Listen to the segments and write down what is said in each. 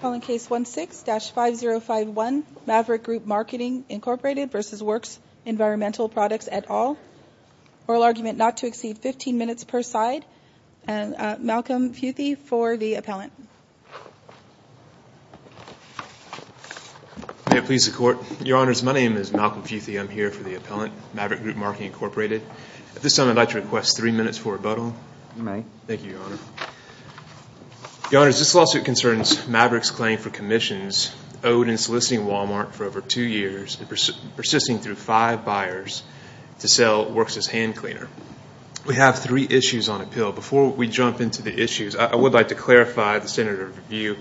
Call in Case 16-5051, Maverick Group Marketing Inc v. Worx Environmental Products et al. Oral argument not to exceed 15 minutes per side. Malcolm Futhy for the appellant. May it please the Court. Your Honors, my name is Malcolm Futhy. I'm here for the appellant, Maverick Group Marketing Inc. At this time I'd like to request three minutes for rebuttal. You may. Thank you, Your Honor. Your Honors, this lawsuit concerns Maverick's claim for commissions owed in soliciting Walmart for over two years and persisting through five buyers to sell Worx's hand cleaner. We have three issues on appeal. Before we jump into the issues, I would like to clarify the standard of review.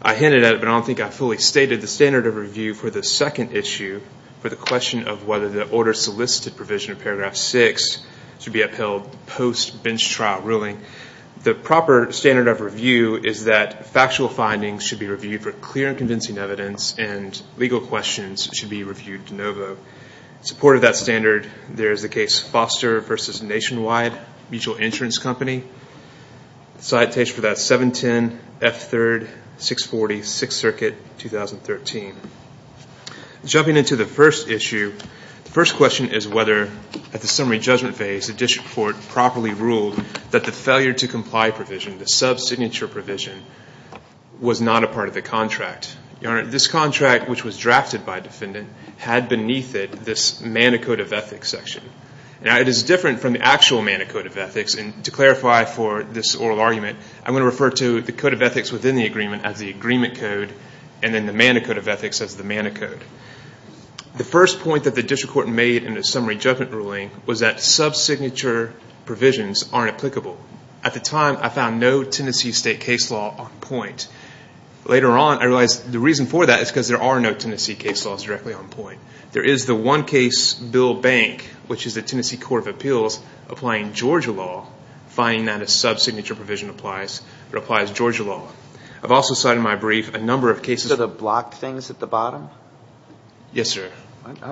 I hinted at it, but I don't think I fully stated the standard of review for the second issue for the question of whether the order solicited provision of paragraph 6 should be upheld post bench trial ruling. The proper standard of review is that factual findings should be reviewed for clear and convincing evidence and legal questions should be reviewed de novo. In support of that standard, there is the case Foster v. Nationwide Mutual Insurance Company. Citation for that is 710 F3 640 6th Circuit, 2013. Jumping into the first issue, the first question is whether at the summary judgment phase the district court properly ruled that the failure to comply provision, the sub-signature provision, was not a part of the contract. Your Honor, this contract, which was drafted by a defendant, had beneath it this Manicode of Ethics section. Now, it is different from the actual Manicode of Ethics, and to clarify for this oral argument, I'm going to refer to the Code of Ethics within the agreement as the Agreement Code and then the Manicode of Ethics as the Manicode. The first point that the district court made in the summary judgment ruling was that sub-signature provisions aren't applicable. At the time, I found no Tennessee state case law on point. Later on, I realized the reason for that is because there are no Tennessee case laws directly on point. There is the one case, Bill Bank, which is the Tennessee Court of Appeals, applying Georgia law, finding that a sub-signature provision applies, but applies Georgia law. I've also cited in my brief a number of cases... So the blocked things at the bottom? Yes, sir.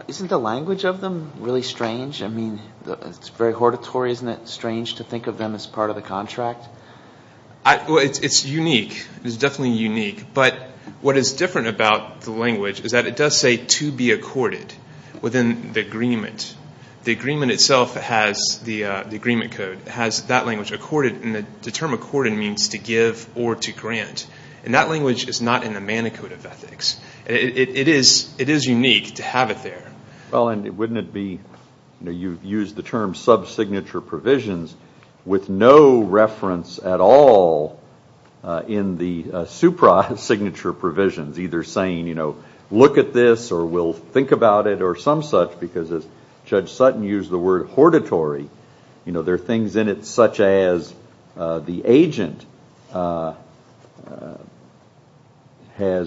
Isn't the language of them really strange? I mean, it's very hortatory. Isn't it strange to think of them as part of the contract? Well, it's unique. It's definitely unique, but what is different about the language is that it does say to be accorded within the agreement. The agreement itself has the Agreement Code. It has that language, accorded, and the term accorded means to give or to grant. And that language is not in the Manicode of Ethics. It is unique to have it there. Well, and wouldn't it be, you know, you've used the term sub-signature provisions with no reference at all in the supra-signature provisions, either saying, you know, look at this, or we'll think about it, or some such, because as Judge Sutton used the word hortatory, you know, there are things in it such as the agent has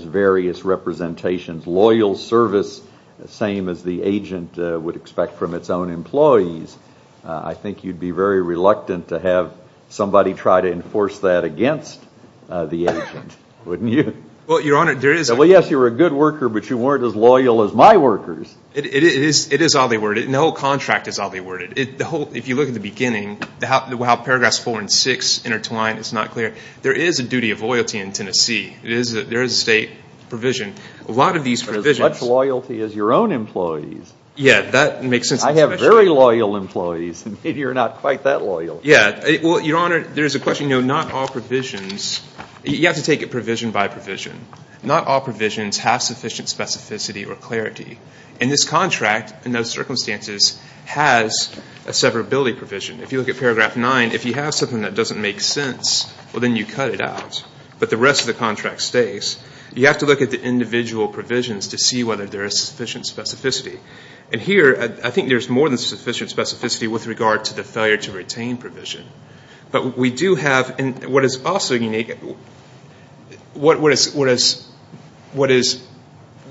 various representations. Loyal service, the same as the agent would expect from its own employees. I think you'd be very reluctant to have somebody try to enforce that against the agent, wouldn't you? Well, Your Honor, there is... Well, yes, you're a good worker, but you weren't as loyal as my workers. It is all they worded. The whole contract is all they worded. If you look at the beginning, how paragraphs four and six intertwine, it's not clear. There is a duty of loyalty in Tennessee. There is a state provision. A lot of these provisions... But as much loyalty as your own employees. Yeah, that makes sense. I have very loyal employees, and maybe you're not quite that loyal. Yeah. Well, Your Honor, there's a question, you know, not all provisions, you have to take it provision by provision. Not all provisions have sufficient specificity or clarity. And this contract, in those circumstances, has a severability provision. If you look at paragraph nine, if you have something that doesn't make sense, well, then you cut it out. But the rest of the contract stays. You have to look at the individual provisions to see whether there is sufficient specificity. And here, I think there's more than sufficient specificity with regard to the failure to retain provision. But we do have, and what is also unique, what is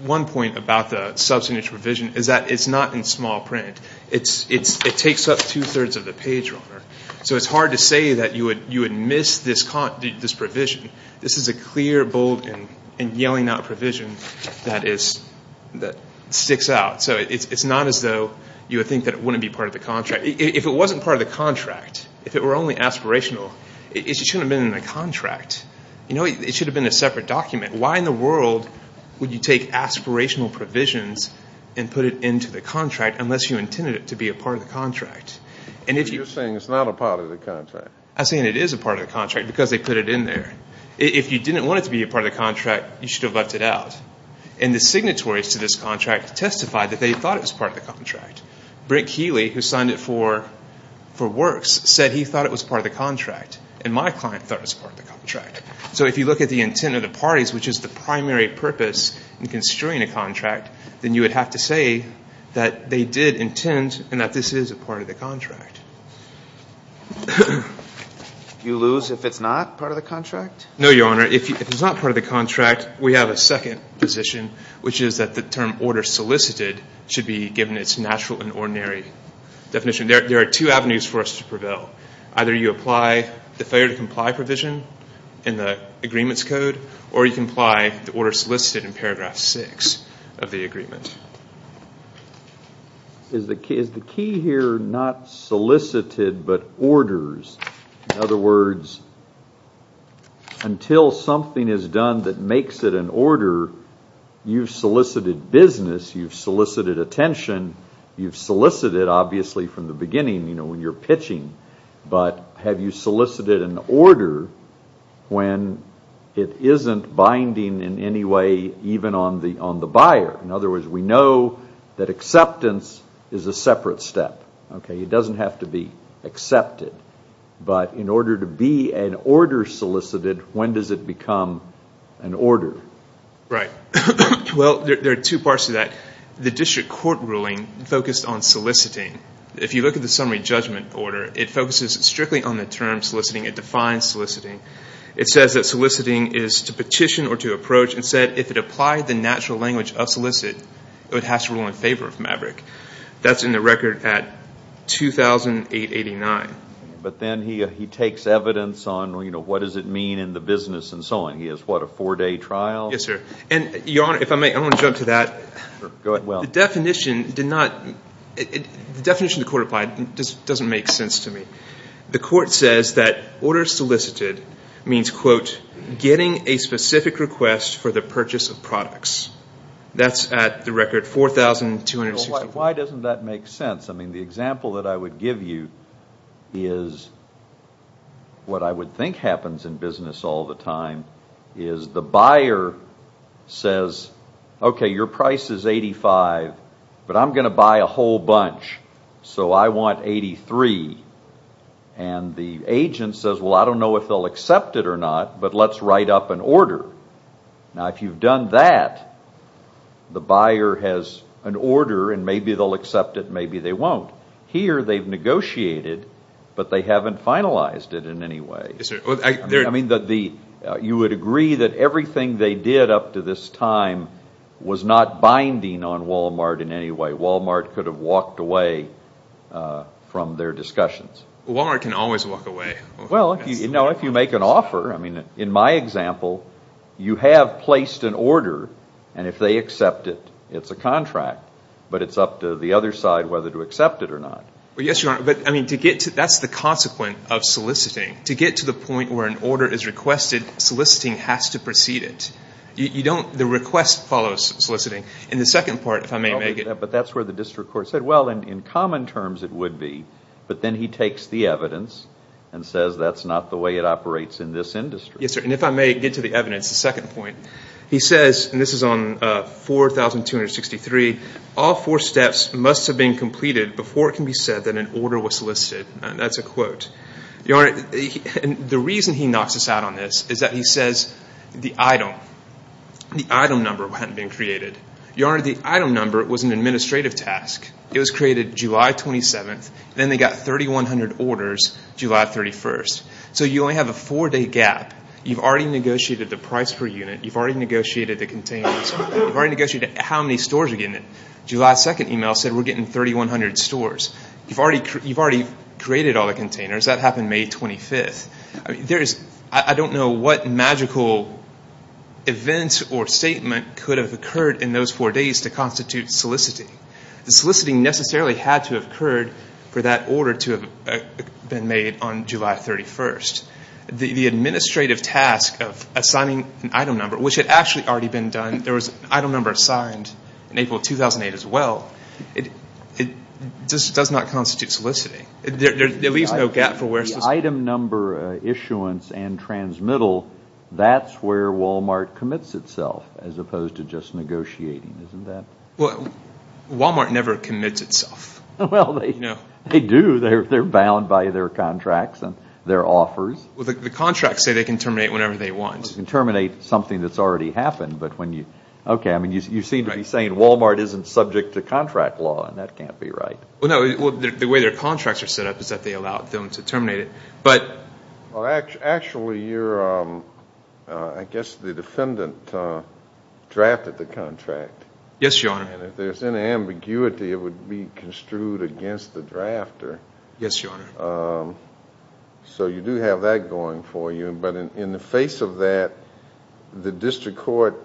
one point about the substantive provision is that it's not in small print. It takes up two-thirds of the page, Your Honor. So it's hard to say that you would miss this provision. This is a clear, bold, and yelling out provision that sticks out. So it's not as though you would think that it wouldn't be part of the contract. If it wasn't part of the contract, if it were only aspirational, it shouldn't have been in the contract. You know, it should have been a separate document. Why in the world would you take aspirational provisions and put it into the contract unless you intended it to be a part of the contract? You're saying it's not a part of the contract. I'm saying it is a part of the contract because they put it in there. If you didn't want it to be a part of the contract, you should have left it out. And the signatories to this contract testified that they thought it was part of the contract. Brent Keeley, who signed it for works, said he thought it was part of the contract and my client thought it was part of the contract. So if you look at the intent of the parties, which is the primary purpose in construing a contract, then you would have to say that they did intend and that this is a part of the contract. Do you lose if it's not part of the contract? No, Your Honor. If it's not part of the contract, we have a second position, which is that the term order solicited should be given its natural and ordinary definition. There are two avenues for us to prevail. Either you apply the failure to comply provision in the agreements code or you can apply the order solicited in paragraph six of the agreement. Is the key here not solicited but orders? In other words, until something is done that makes it an order, you've solicited business, you've solicited attention, you've solicited obviously from the beginning when you're pitching, but have you solicited an order when it isn't binding in any way even on the buyer? In other words, we know that acceptance is a separate step. It doesn't have to be accepted. But in order to be an order solicited, when does it become an order? Right. Well, there are two parts to that. The district court ruling focused on soliciting. If you look at the summary judgment order, it focuses strictly on the term soliciting. It defines soliciting. It says that soliciting is to petition or to approach and said if it applied the natural language of solicit, it would have to rule in favor of Maverick. That's in the record at 2,889. But then he takes evidence on what does it mean in the business and so on. He has what, a four-day trial? Yes, sir. Your Honor, if I may, I want to jump to that. Go ahead. The definition the court applied doesn't make sense to me. The court says that order solicited means, quote, getting a specific request for the purchase of products. That's at the record 4,264. Why doesn't that make sense? I mean, the example that I would give you is what I would think happens in business all the time, is the buyer says, okay, your price is 85, but I'm going to buy a whole bunch, so I want 83. And the agent says, well, I don't know if they'll accept it or not, but let's write up an order. Now, if you've done that, the buyer has an order, and maybe they'll accept it, maybe they won't. Here they've negotiated, but they haven't finalized it in any way. I mean, you would agree that everything they did up to this time was not binding on Walmart in any way. Walmart could have walked away from their discussions. Walmart can always walk away. Well, if you make an offer. I mean, in my example, you have placed an order, and if they accept it, it's a contract. But it's up to the other side whether to accept it or not. Well, yes, Your Honor. But, I mean, to get to that's the consequence of soliciting. To get to the point where an order is requested, soliciting has to precede it. You don't, the request follows soliciting. In the second part, if I may make it. But that's where the district court said, well, in common terms it would be, but then he takes the evidence and says that's not the way it operates in this industry. Yes, sir. And if I may get to the evidence, the second point. He says, and this is on 4263, all four steps must have been completed before it can be said that an order was solicited. That's a quote. Your Honor, the reason he knocks us out on this is that he says the item, the item number hadn't been created. Your Honor, the item number was an administrative task. It was created July 27th. Then they got 3,100 orders July 31st. So you only have a four-day gap. You've already negotiated the price per unit. You've already negotiated the containers. You've already negotiated how many stores are getting it. July 2nd email said we're getting 3,100 stores. You've already created all the containers. That happened May 25th. I don't know what magical event or statement could have occurred in those four days to constitute soliciting. Soliciting necessarily had to have occurred for that order to have been made on July 31st. The administrative task of assigning an item number, which had actually already been done. There was an item number assigned in April 2008 as well. It just does not constitute soliciting. There leaves no gap for where soliciting is. The item number issuance and transmittal, that's where Walmart commits itself as opposed to just negotiating, isn't that? Walmart never commits itself. They do. They're bound by their contracts and their offers. The contracts say they can terminate whenever they want. They can terminate something that's already happened. You seem to be saying Walmart isn't subject to contract law, and that can't be right. The way their contracts are set up is that they allow them to terminate it. Actually, I guess the defendant drafted the contract. Yes, Your Honor. If there's any ambiguity, it would be construed against the drafter. Yes, Your Honor. You do have that going for you. In the face of that, the district court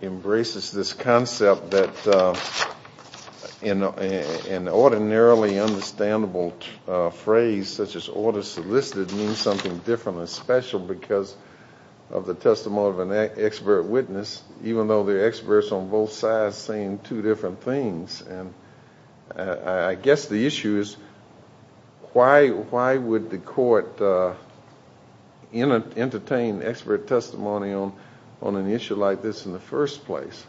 embraces this concept that an ordinarily understandable phrase such as order solicited means something different and special because of the testimony of an expert witness, even though there are experts on both sides saying two different things. I guess the issue is why would the court entertain expert testimony on an issue like this in the first place?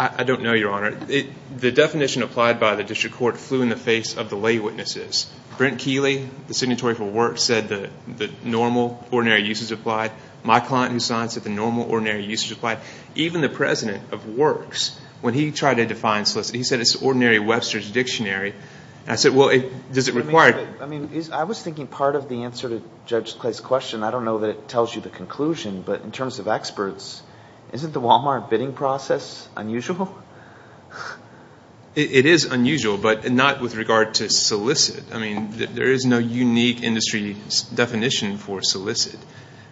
I don't know, Your Honor. The definition applied by the district court flew in the face of the lay witnesses. Brent Keeley, the signatory for work, said that normal ordinary uses applied. My client, who signed, said that normal ordinary uses applied. Even the president of works, when he tried to define solicited, he said it's an ordinary Webster's dictionary. I said, well, does it require it? I was thinking part of the answer to Judge Clay's question, I don't know that it tells you the conclusion, but in terms of experts, isn't the Walmart bidding process unusual? It is unusual, but not with regard to solicited. There is no unique industry definition for solicited.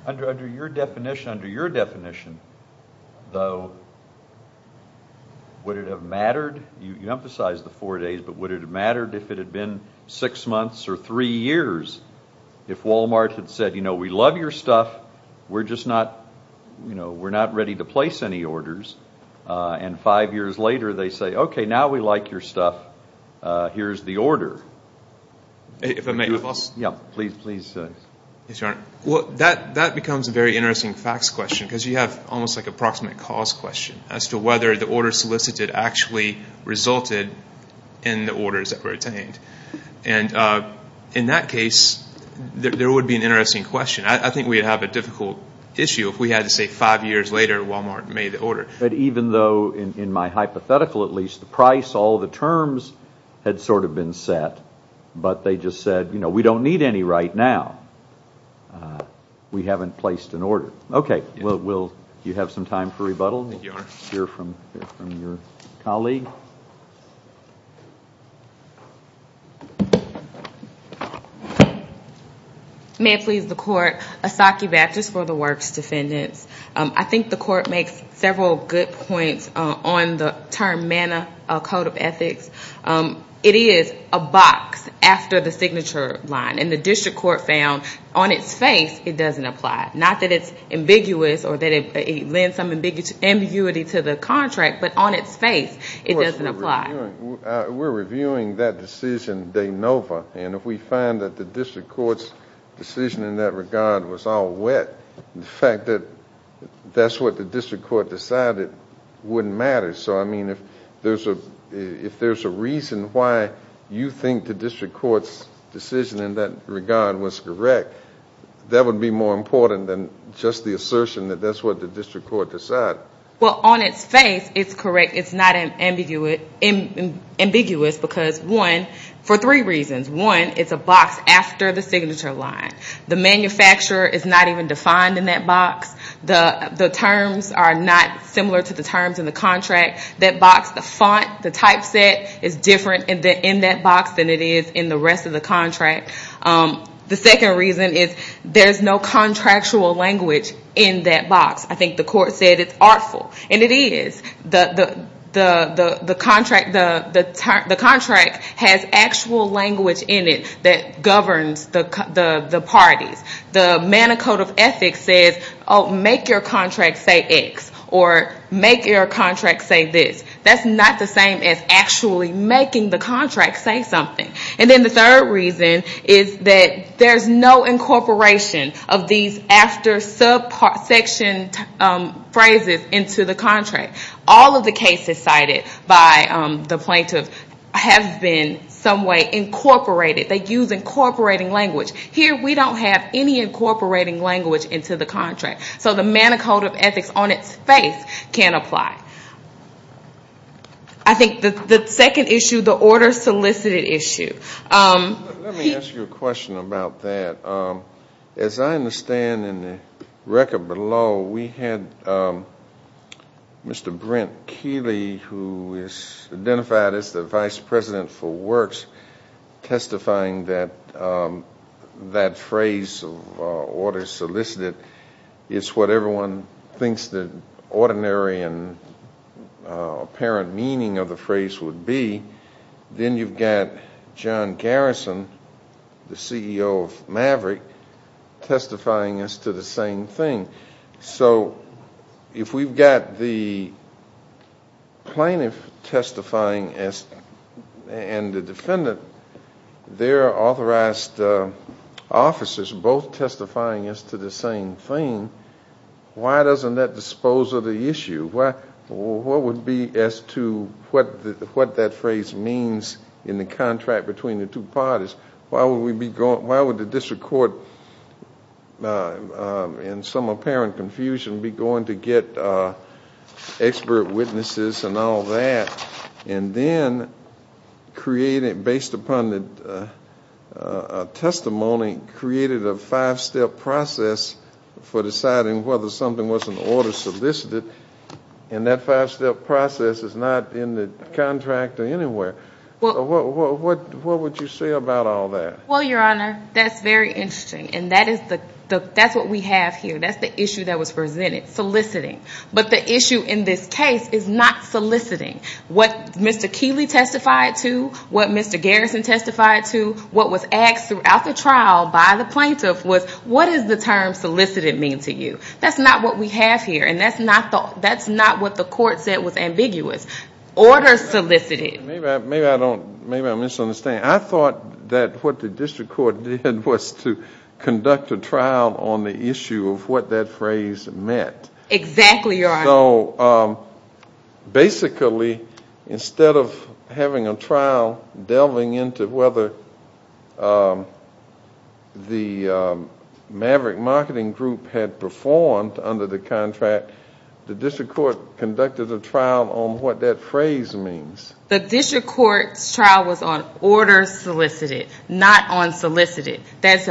Under your definition, though, would it have mattered? You emphasized the four days, but would it have mattered if it had been six months or three years, if Walmart had said, you know, we love your stuff, we're just not ready to place any orders, and five years later they say, okay, now we like your stuff, here's the order. If I may, Your Honor. Well, that becomes a very interesting facts question, because you have almost like a proximate cause question as to whether the order solicited actually resulted in the orders that were obtained. And in that case, there would be an interesting question. I think we would have a difficult issue if we had to say five years later Walmart made the order. But even though, in my hypothetical at least, the price, all the terms had sort of been set, but they just said, you know, we don't need any right now, we haven't placed an order. Okay. Will you have some time for rebuttal? We'll hear from your colleague. May it please the Court. Asaki Batches for the Works Defendants. I think the Court makes several good points on the term M.A.N.A., Code of Ethics. It is a box after the signature line. And the district court found on its face it doesn't apply. Not that it's ambiguous or that it lends some ambiguity to the contract, but on its face it doesn't apply. We're reviewing that decision de novo. And if we find that the district court's decision in that regard was all wet, the fact that that's what the district court decided wouldn't matter. So, I mean, if there's a reason why you think the district court's decision in that regard was correct, that would be more important than just the assertion that that's what the district court decided. Well, on its face it's correct. It's not ambiguous because, one, for three reasons. One, it's a box after the signature line. The manufacturer is not even defined in that box. The terms are not similar to the terms in the contract. That box, the font, the typeset is different in that box than it is in the rest of the contract. The second reason is there's no contractual language in that box. I think the Court said it's artful, and it is. The contract has actual language in it that governs the parties. The Manicote of Ethics says, oh, make your contract say X, or make your contract say this. That's not the same as actually making the contract say something. And then the third reason is that there's no incorporation of these after subsection phrases into the contract. All of the cases cited by the plaintiff have been some way incorporated. They use incorporating language. Here we don't have any incorporating language into the contract. So the Manicote of Ethics on its face can't apply. I think the second issue, the order solicited issue. Let me ask you a question about that. As I understand in the record below, we had Mr. Brent Keeley, who is identified as the Vice President for Works, testifying that that phrase, order solicited, is what everyone thinks the ordinary and apparent meaning of the phrase would be. Then you've got John Garrison, the CEO of Maverick, testifying as to the same thing. So if we've got the plaintiff testifying and the defendant, their authorized officers both testifying as to the same thing, why doesn't that dispose of the issue? What would be as to what that phrase means in the contract between the two parties? Why would the district court, in some apparent confusion, be going to get expert witnesses and all that? Then, based upon the testimony, created a five-step process for deciding whether something was an order solicited. That five-step process is not in the contract anywhere. What would you say about all that? Well, Your Honor, that's very interesting, and that's what we have here. That's the issue that was presented, soliciting. But the issue in this case is not soliciting. What Mr. Keeley testified to, what Mr. Garrison testified to, what was asked throughout the trial by the plaintiff was, what does the term solicited mean to you? That's not what we have here, and that's not what the court said was ambiguous. Order solicited. Maybe I'm misunderstanding. I thought that what the district court did was to conduct a trial on the issue of what that phrase meant. Exactly, Your Honor. So basically, instead of having a trial delving into whether the Maverick Marketing Group had performed under the contract, the district court conducted a trial on what that phrase means. The district court's trial was on order solicited, not on solicited. That's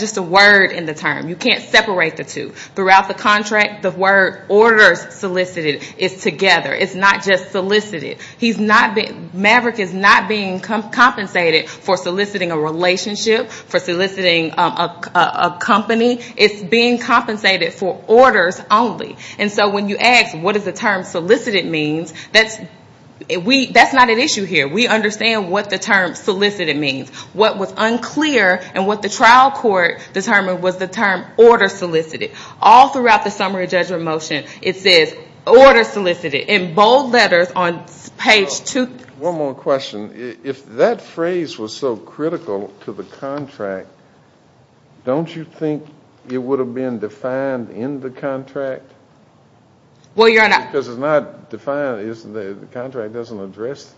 just a word in the term. You can't separate the two. Throughout the contract, the word order solicited is together. It's not just solicited. Maverick is not being compensated for soliciting a relationship, for soliciting a company. It's being compensated for orders only. And so when you ask, what does the term solicited mean, that's not an issue here. We understand what the term solicited means. What was unclear and what the trial court determined was the term order solicited. All throughout the summary judgment motion, it says order solicited in bold letters on page 2. One more question. If that phrase was so critical to the contract, don't you think it would have been defined in the contract? Well, Your Honor. Because it's not defined. The contract doesn't address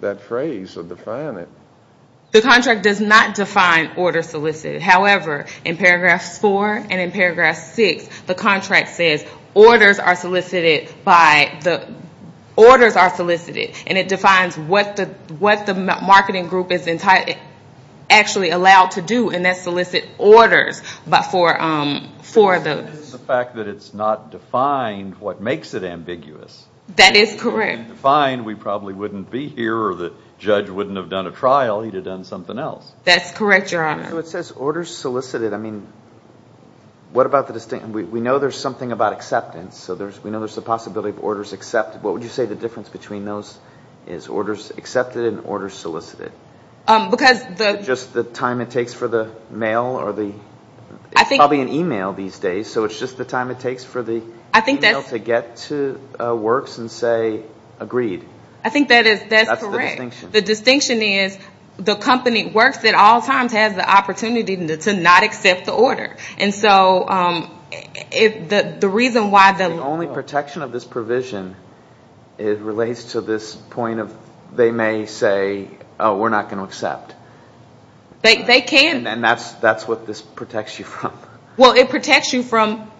that phrase or define it. The contract does not define order solicited. And it defines what the marketing group is actually allowed to do. And that's solicit orders. But for the fact that it's not defined what makes it ambiguous. That is correct. If it had been defined, we probably wouldn't be here or the judge wouldn't have done a trial. He'd have done something else. That's correct, Your Honor. So it says order solicited. I mean, what about the distinction? We know there's something about acceptance. So we know there's the possibility of orders accepted. What would you say the difference between those is? Orders accepted and orders solicited. Just the time it takes for the mail. It's probably an e-mail these days. So it's just the time it takes for the e-mail to get to works and say agreed. I think that is correct. That's the distinction. The distinction is the company works at all times has the opportunity to not accept the order. And so the reason why the law... The only protection of this provision, it relates to this point of they may say, oh, we're not going to accept. They can. And that's what this protects you from. Well, it protects you from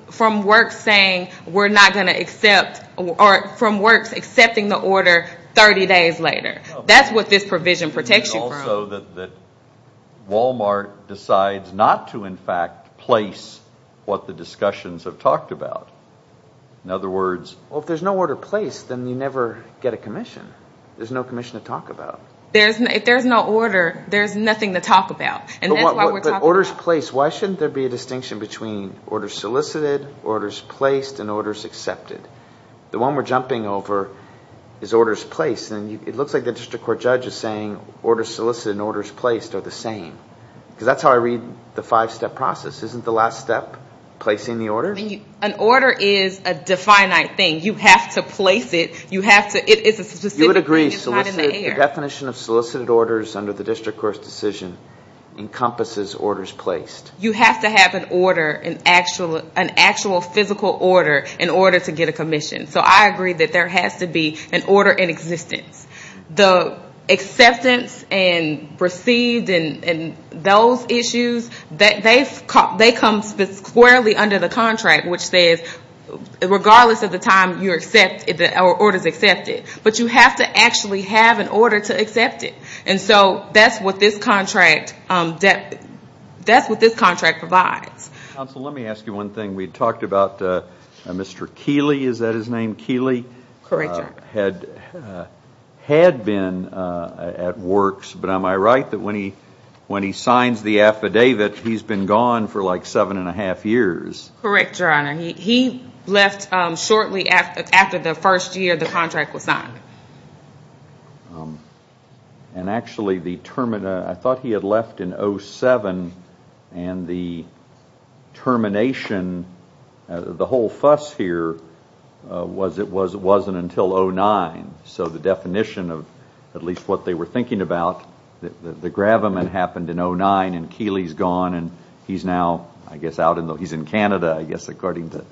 works saying we're not going to accept or from works accepting the order 30 days later. That's what this provision protects you from. So that Wal-Mart decides not to, in fact, place what the discussions have talked about. In other words... Well, if there's no order placed, then you never get a commission. There's no commission to talk about. If there's no order, there's nothing to talk about. And that's why we're talking... But orders placed, why shouldn't there be a distinction between orders solicited, orders placed, and orders accepted? The one we're jumping over is orders placed. And it looks like the district court judge is saying orders solicited and orders placed are the same. Because that's how I read the five-step process. Isn't the last step placing the order? An order is a definite thing. You have to place it. You have to... You would agree solicited... The definition of solicited orders under the district court's decision encompasses orders placed. You have to have an order, an actual physical order, in order to get a commission. So I agree that there has to be an order in existence. The acceptance and received and those issues, they come squarely under the contract, which says regardless of the time the order is accepted. But you have to actually have an order to accept it. And so that's what this contract provides. Counsel, let me ask you one thing. We talked about Mr. Keeley. Is that his name, Keeley? Correct, Your Honor. Had been at works. But am I right that when he signs the affidavit, he's been gone for like seven and a half years? Correct, Your Honor. He left shortly after the first year the contract was signed. And actually the term... I thought he had left in 07 and the termination... The whole fuss here was it wasn't until 09. So the definition of at least what they were thinking about, the gravamen happened in 09 and Keeley's gone and he's now, I guess, out in... He's in Canada, I guess, according to...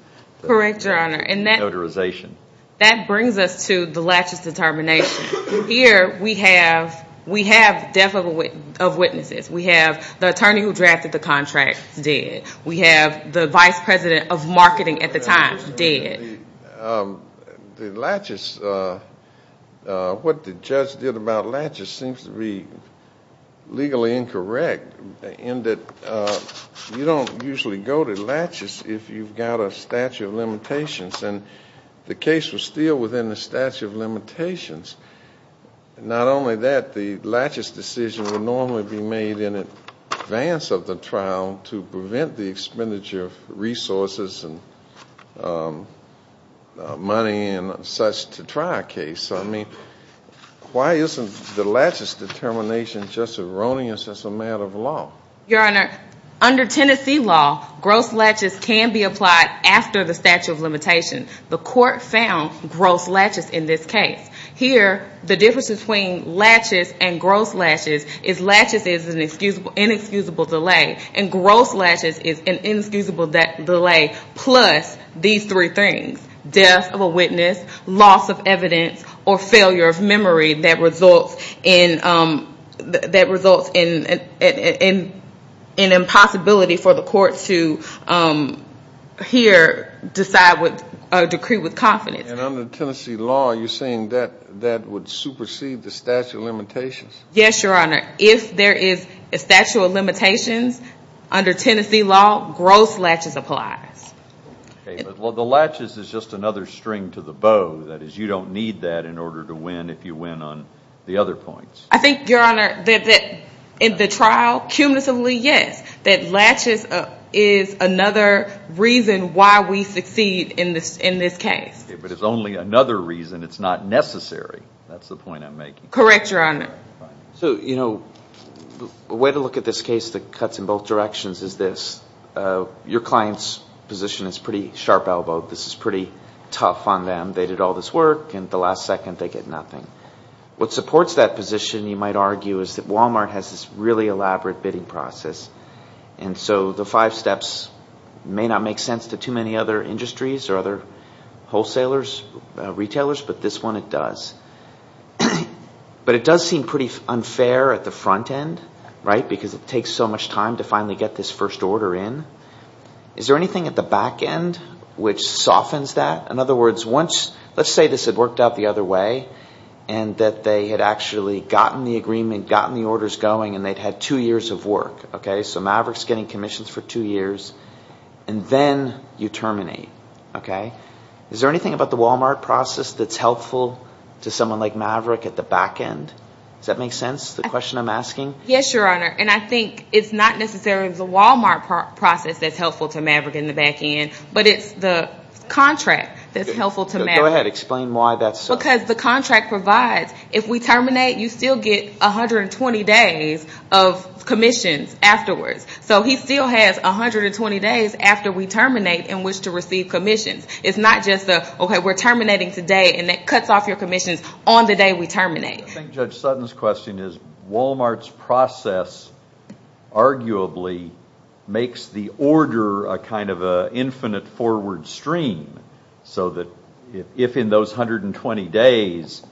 Correct, Your Honor. And that... Notarization. That brings us to the laches determination. Here we have death of witnesses. We have the attorney who drafted the contract dead. We have the vice president of marketing at the time dead. The laches, what the judge did about laches seems to be legally incorrect in that you don't usually go to laches if you've got a statute of limitations. And the case was still within the statute of limitations. Not only that, the laches decision would normally be made in advance of the trial to prevent the expenditure of resources and money and such to try a case. I mean, why isn't the laches determination just erroneous as a matter of law? Your Honor, under Tennessee law, gross laches can be applied after the statute of limitations. The court found gross laches in this case. Here, the difference between laches and gross laches is laches is an inexcusable delay and gross laches is an inexcusable delay, plus these three things, death of a witness, loss of evidence, or failure of memory that results in an impossibility for the court to here decide or decree with confidence. And under Tennessee law, you're saying that that would supersede the statute of limitations? Yes, Your Honor. If there is a statute of limitations under Tennessee law, gross laches applies. Okay, but the laches is just another string to the bow. That is, you don't need that in order to win if you win on the other points. I think, Your Honor, that in the trial, cumulatively, yes, that laches is another reason why we succeed in this case. Okay, but it's only another reason. It's not necessary. That's the point I'm making. Correct, Your Honor. So, you know, a way to look at this case that cuts in both directions is this. Your client's position is pretty sharp-elbowed. This is pretty tough on them. They did all this work, and the last second, they get nothing. What supports that position, you might argue, is that Walmart has this really elaborate bidding process. And so the five steps may not make sense to too many other industries or other wholesalers, retailers, but this one, it does. But it does seem pretty unfair at the front end, right, because it takes so much time to finally get this first order in. Is there anything at the back end which softens that? In other words, let's say this had worked out the other way and that they had actually gotten the agreement, gotten the orders going, and they'd had two years of work. Okay, so Maverick's getting commissions for two years, and then you terminate. Okay? Is there anything about the Walmart process that's helpful to someone like Maverick at the back end? Does that make sense, the question I'm asking? Yes, Your Honor, and I think it's not necessarily the Walmart process that's helpful to Maverick in the back end, but it's the contract that's helpful to Maverick. Go ahead. Explain why that's so. Because the contract provides, if we terminate, you still get 120 days of commissions afterwards. So he still has 120 days after we terminate in which to receive commissions. It's not just the, okay, we're terminating today, and that cuts off your commissions on the day we terminate. I think Judge Sutton's question is Walmart's process arguably makes the order a kind of an infinite forward stream, so that if in those 120 days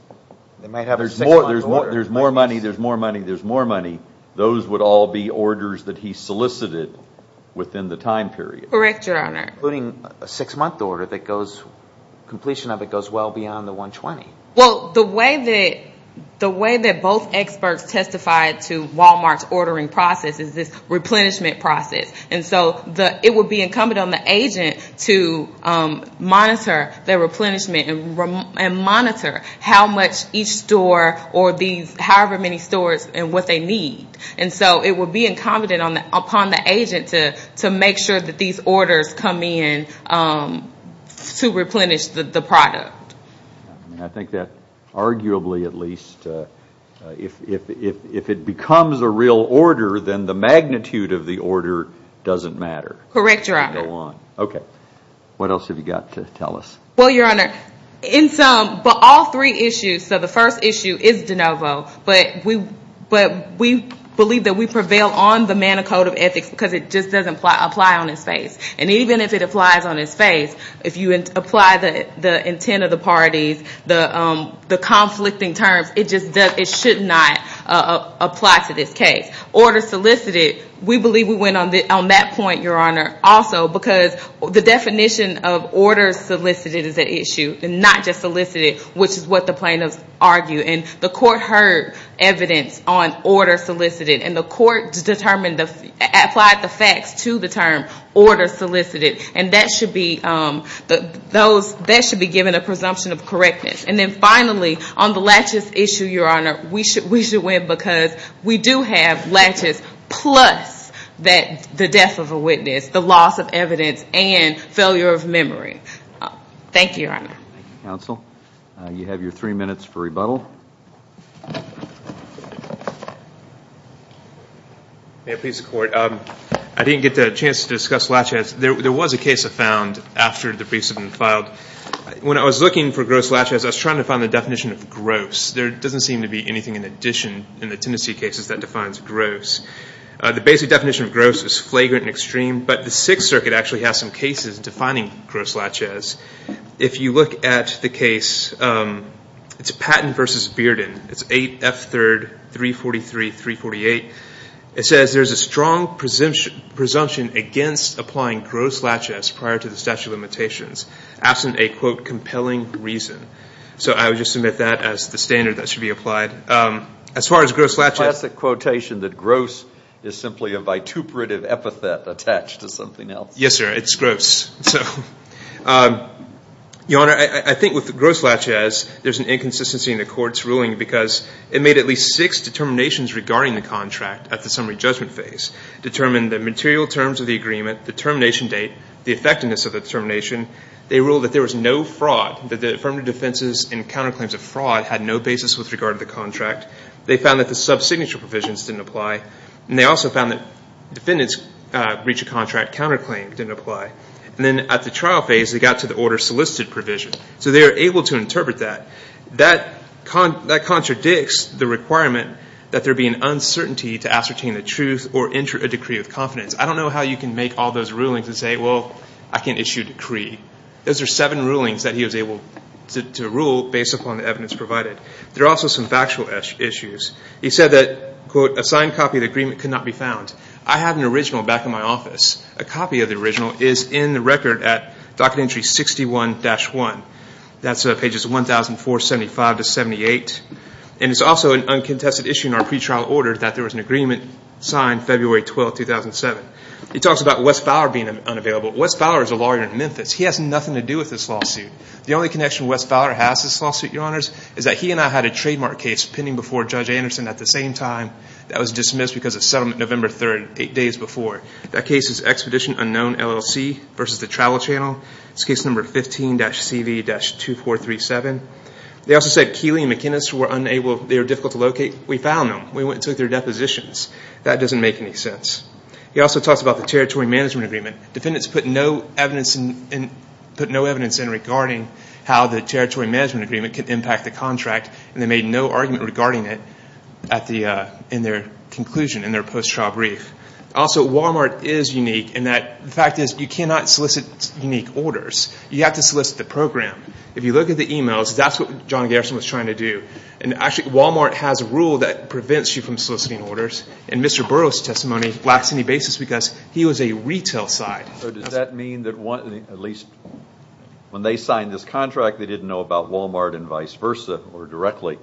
there's more money, there's more money, there's more money, those would all be orders that he solicited within the time period. Correct, Your Honor. Including a six-month order that goes, completion of it goes well beyond the 120. Well, the way that both experts testified to Walmart's ordering process is this replenishment process. And so it would be incumbent on the agent to monitor their replenishment and monitor how much each store or these however many stores and what they need. And so it would be incumbent upon the agent to make sure that these orders come in to replenish the product. I think that arguably at least if it becomes a real order, then the magnitude of the order doesn't matter. Correct, Your Honor. Okay. What else have you got to tell us? Well, Your Honor, in some, but all three issues, so the first issue is DeNovo, but we believe that we prevail on the Manicode of Ethics because it just doesn't apply on its face. And even if it applies on its face, if you apply the intent of the parties, the conflicting terms, it just does, it should not apply to this case. Order solicited, we believe we win on that point, Your Honor, also, because the definition of order solicited is an issue and not just solicited, which is what the plaintiffs argue. And the court heard evidence on order solicited, and the court applied the facts to the term order solicited. And that should be given a presumption of correctness. And then finally, on the laches issue, Your Honor, we should win because we do have laches plus the death of a witness, the loss of evidence, and failure of memory. Thank you, Your Honor. Thank you, counsel. You have your three minutes for rebuttal. May it please the Court. I didn't get the chance to discuss laches. There was a case I found after the briefs had been filed. When I was looking for gross laches, I was trying to find the definition of gross. There doesn't seem to be anything in addition in the Tennessee cases that defines gross. The basic definition of gross is flagrant and extreme, but the Sixth Circuit actually has some cases defining gross laches. If you look at the case, it's Patton v. Bearden. It's 8F3rd 343-348. It says there's a strong presumption against applying gross laches prior to the statute of limitations, absent a, quote, compelling reason. So I would just submit that as the standard that should be applied. As far as gross laches. It's a classic quotation that gross is simply a vituperative epithet attached to something else. Yes, sir. It's gross. Your Honor, I think with gross laches, there's an inconsistency in the Court's ruling because it made at least six determinations regarding the contract at the summary judgment phase. Determined the material terms of the agreement, the termination date, the effectiveness of the termination. They ruled that there was no fraud, that the affirmative defenses and counterclaims of fraud had no basis with regard to the contract. They found that the sub-signature provisions didn't apply. And they also found that defendants breach of contract counterclaim didn't apply. And then at the trial phase, they got to the order solicited provision. So they were able to interpret that. That contradicts the requirement that there be an uncertainty to ascertain the truth or enter a decree with confidence. I don't know how you can make all those rulings and say, well, I can't issue a decree. Those are seven rulings that he was able to rule based upon the evidence provided. There are also some factual issues. He said that, quote, a signed copy of the agreement could not be found. I have an original back in my office. A copy of the original is in the record at docket entry 61-1. That's pages 1,475 to 78. And it's also an uncontested issue in our pretrial order that there was an agreement signed February 12, 2007. He talks about Wes Fowler being unavailable. Wes Fowler is a lawyer in Memphis. He has nothing to do with this lawsuit. The only connection Wes Fowler has to this lawsuit, Your Honors, is that he and I had a trademark case pending before Judge Anderson at the same time that was dismissed because of settlement November 3, eight days before. That case is Expedition Unknown LLC versus the Travel Channel. It's case number 15-CV-2437. They also said Keely and McInnis were unable, they were difficult to locate. We found them. We went and took their depositions. That doesn't make any sense. He also talks about the Territory Management Agreement. Defendants put no evidence in regarding how the Territory Management Agreement could impact the contract, and they made no argument regarding it in their conclusion, in their post-trial brief. Also, Walmart is unique in that the fact is you cannot solicit unique orders. You have to solicit the program. If you look at the emails, that's what John Gerson was trying to do. Actually, Walmart has a rule that prevents you from soliciting orders, and Mr. Burroughs' testimony lacks any basis because he was a retail side. So does that mean that at least when they signed this contract, they didn't know about Walmart and vice versa or directly,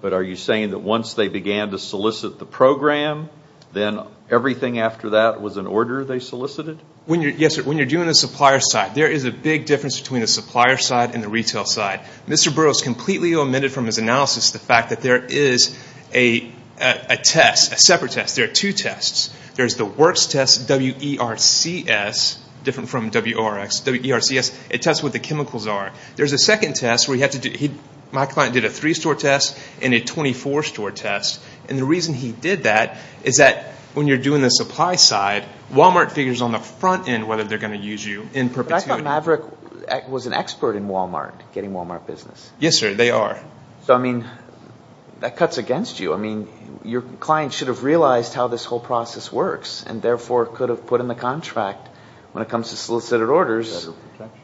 but are you saying that once they began to solicit the program, then everything after that was an order they solicited? Yes, sir. When you're doing a supplier side, there is a big difference between the supplier side and the retail side. Mr. Burroughs completely omitted from his analysis the fact that there is a test, a separate test. There are two tests. There's the WORCS test, W-E-R-C-S, different from W-O-R-X, W-E-R-C-S. It tests what the chemicals are. There's a second test where my client did a three-store test and a 24-store test, and the reason he did that is that when you're doing the supply side, Walmart figures on the front end whether they're going to use you in perpetuity. But I thought Maverick was an expert in Walmart, getting Walmart business. Yes, sir, they are. So, I mean, that cuts against you. I mean, your client should have realized how this whole process works and therefore could have put in the contract when it comes to solicited orders,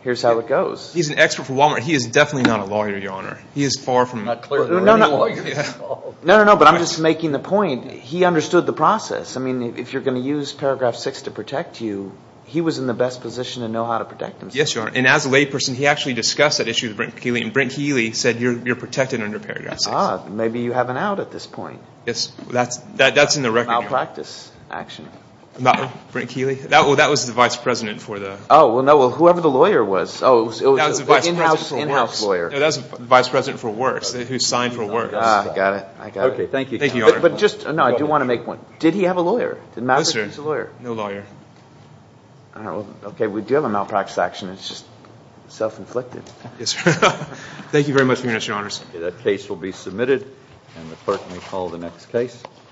here's how it goes. He's an expert for Walmart. He is definitely not a lawyer, Your Honor. He is far from a legal lawyer. No, no, no, but I'm just making the point. He understood the process. I mean, if you're going to use paragraph six to protect you, he was in the best position to know how to protect himself. Yes, Your Honor, and as a layperson, he actually discussed that issue with Brent Keeley, and Brent Keeley said you're protected under paragraph six. Ah, maybe you have an out at this point. Yes, that's in the record. Malpractice action. Brent Keeley? That was the vice president for the— Oh, well, no, whoever the lawyer was. Oh, it was the in-house lawyer. No, that was the vice president for works, who signed for works. Ah, I got it, I got it. Okay, thank you. Thank you, Your Honor. But just, no, I do want to make one. Did he have a lawyer? Did Maverick use a lawyer? No lawyer. All right, well, okay, we do have a malpractice action. It's just self-inflicted. Yes, sir. Thank you very much for your interest, Your Honors. That case will be submitted, and the clerk may call the next case.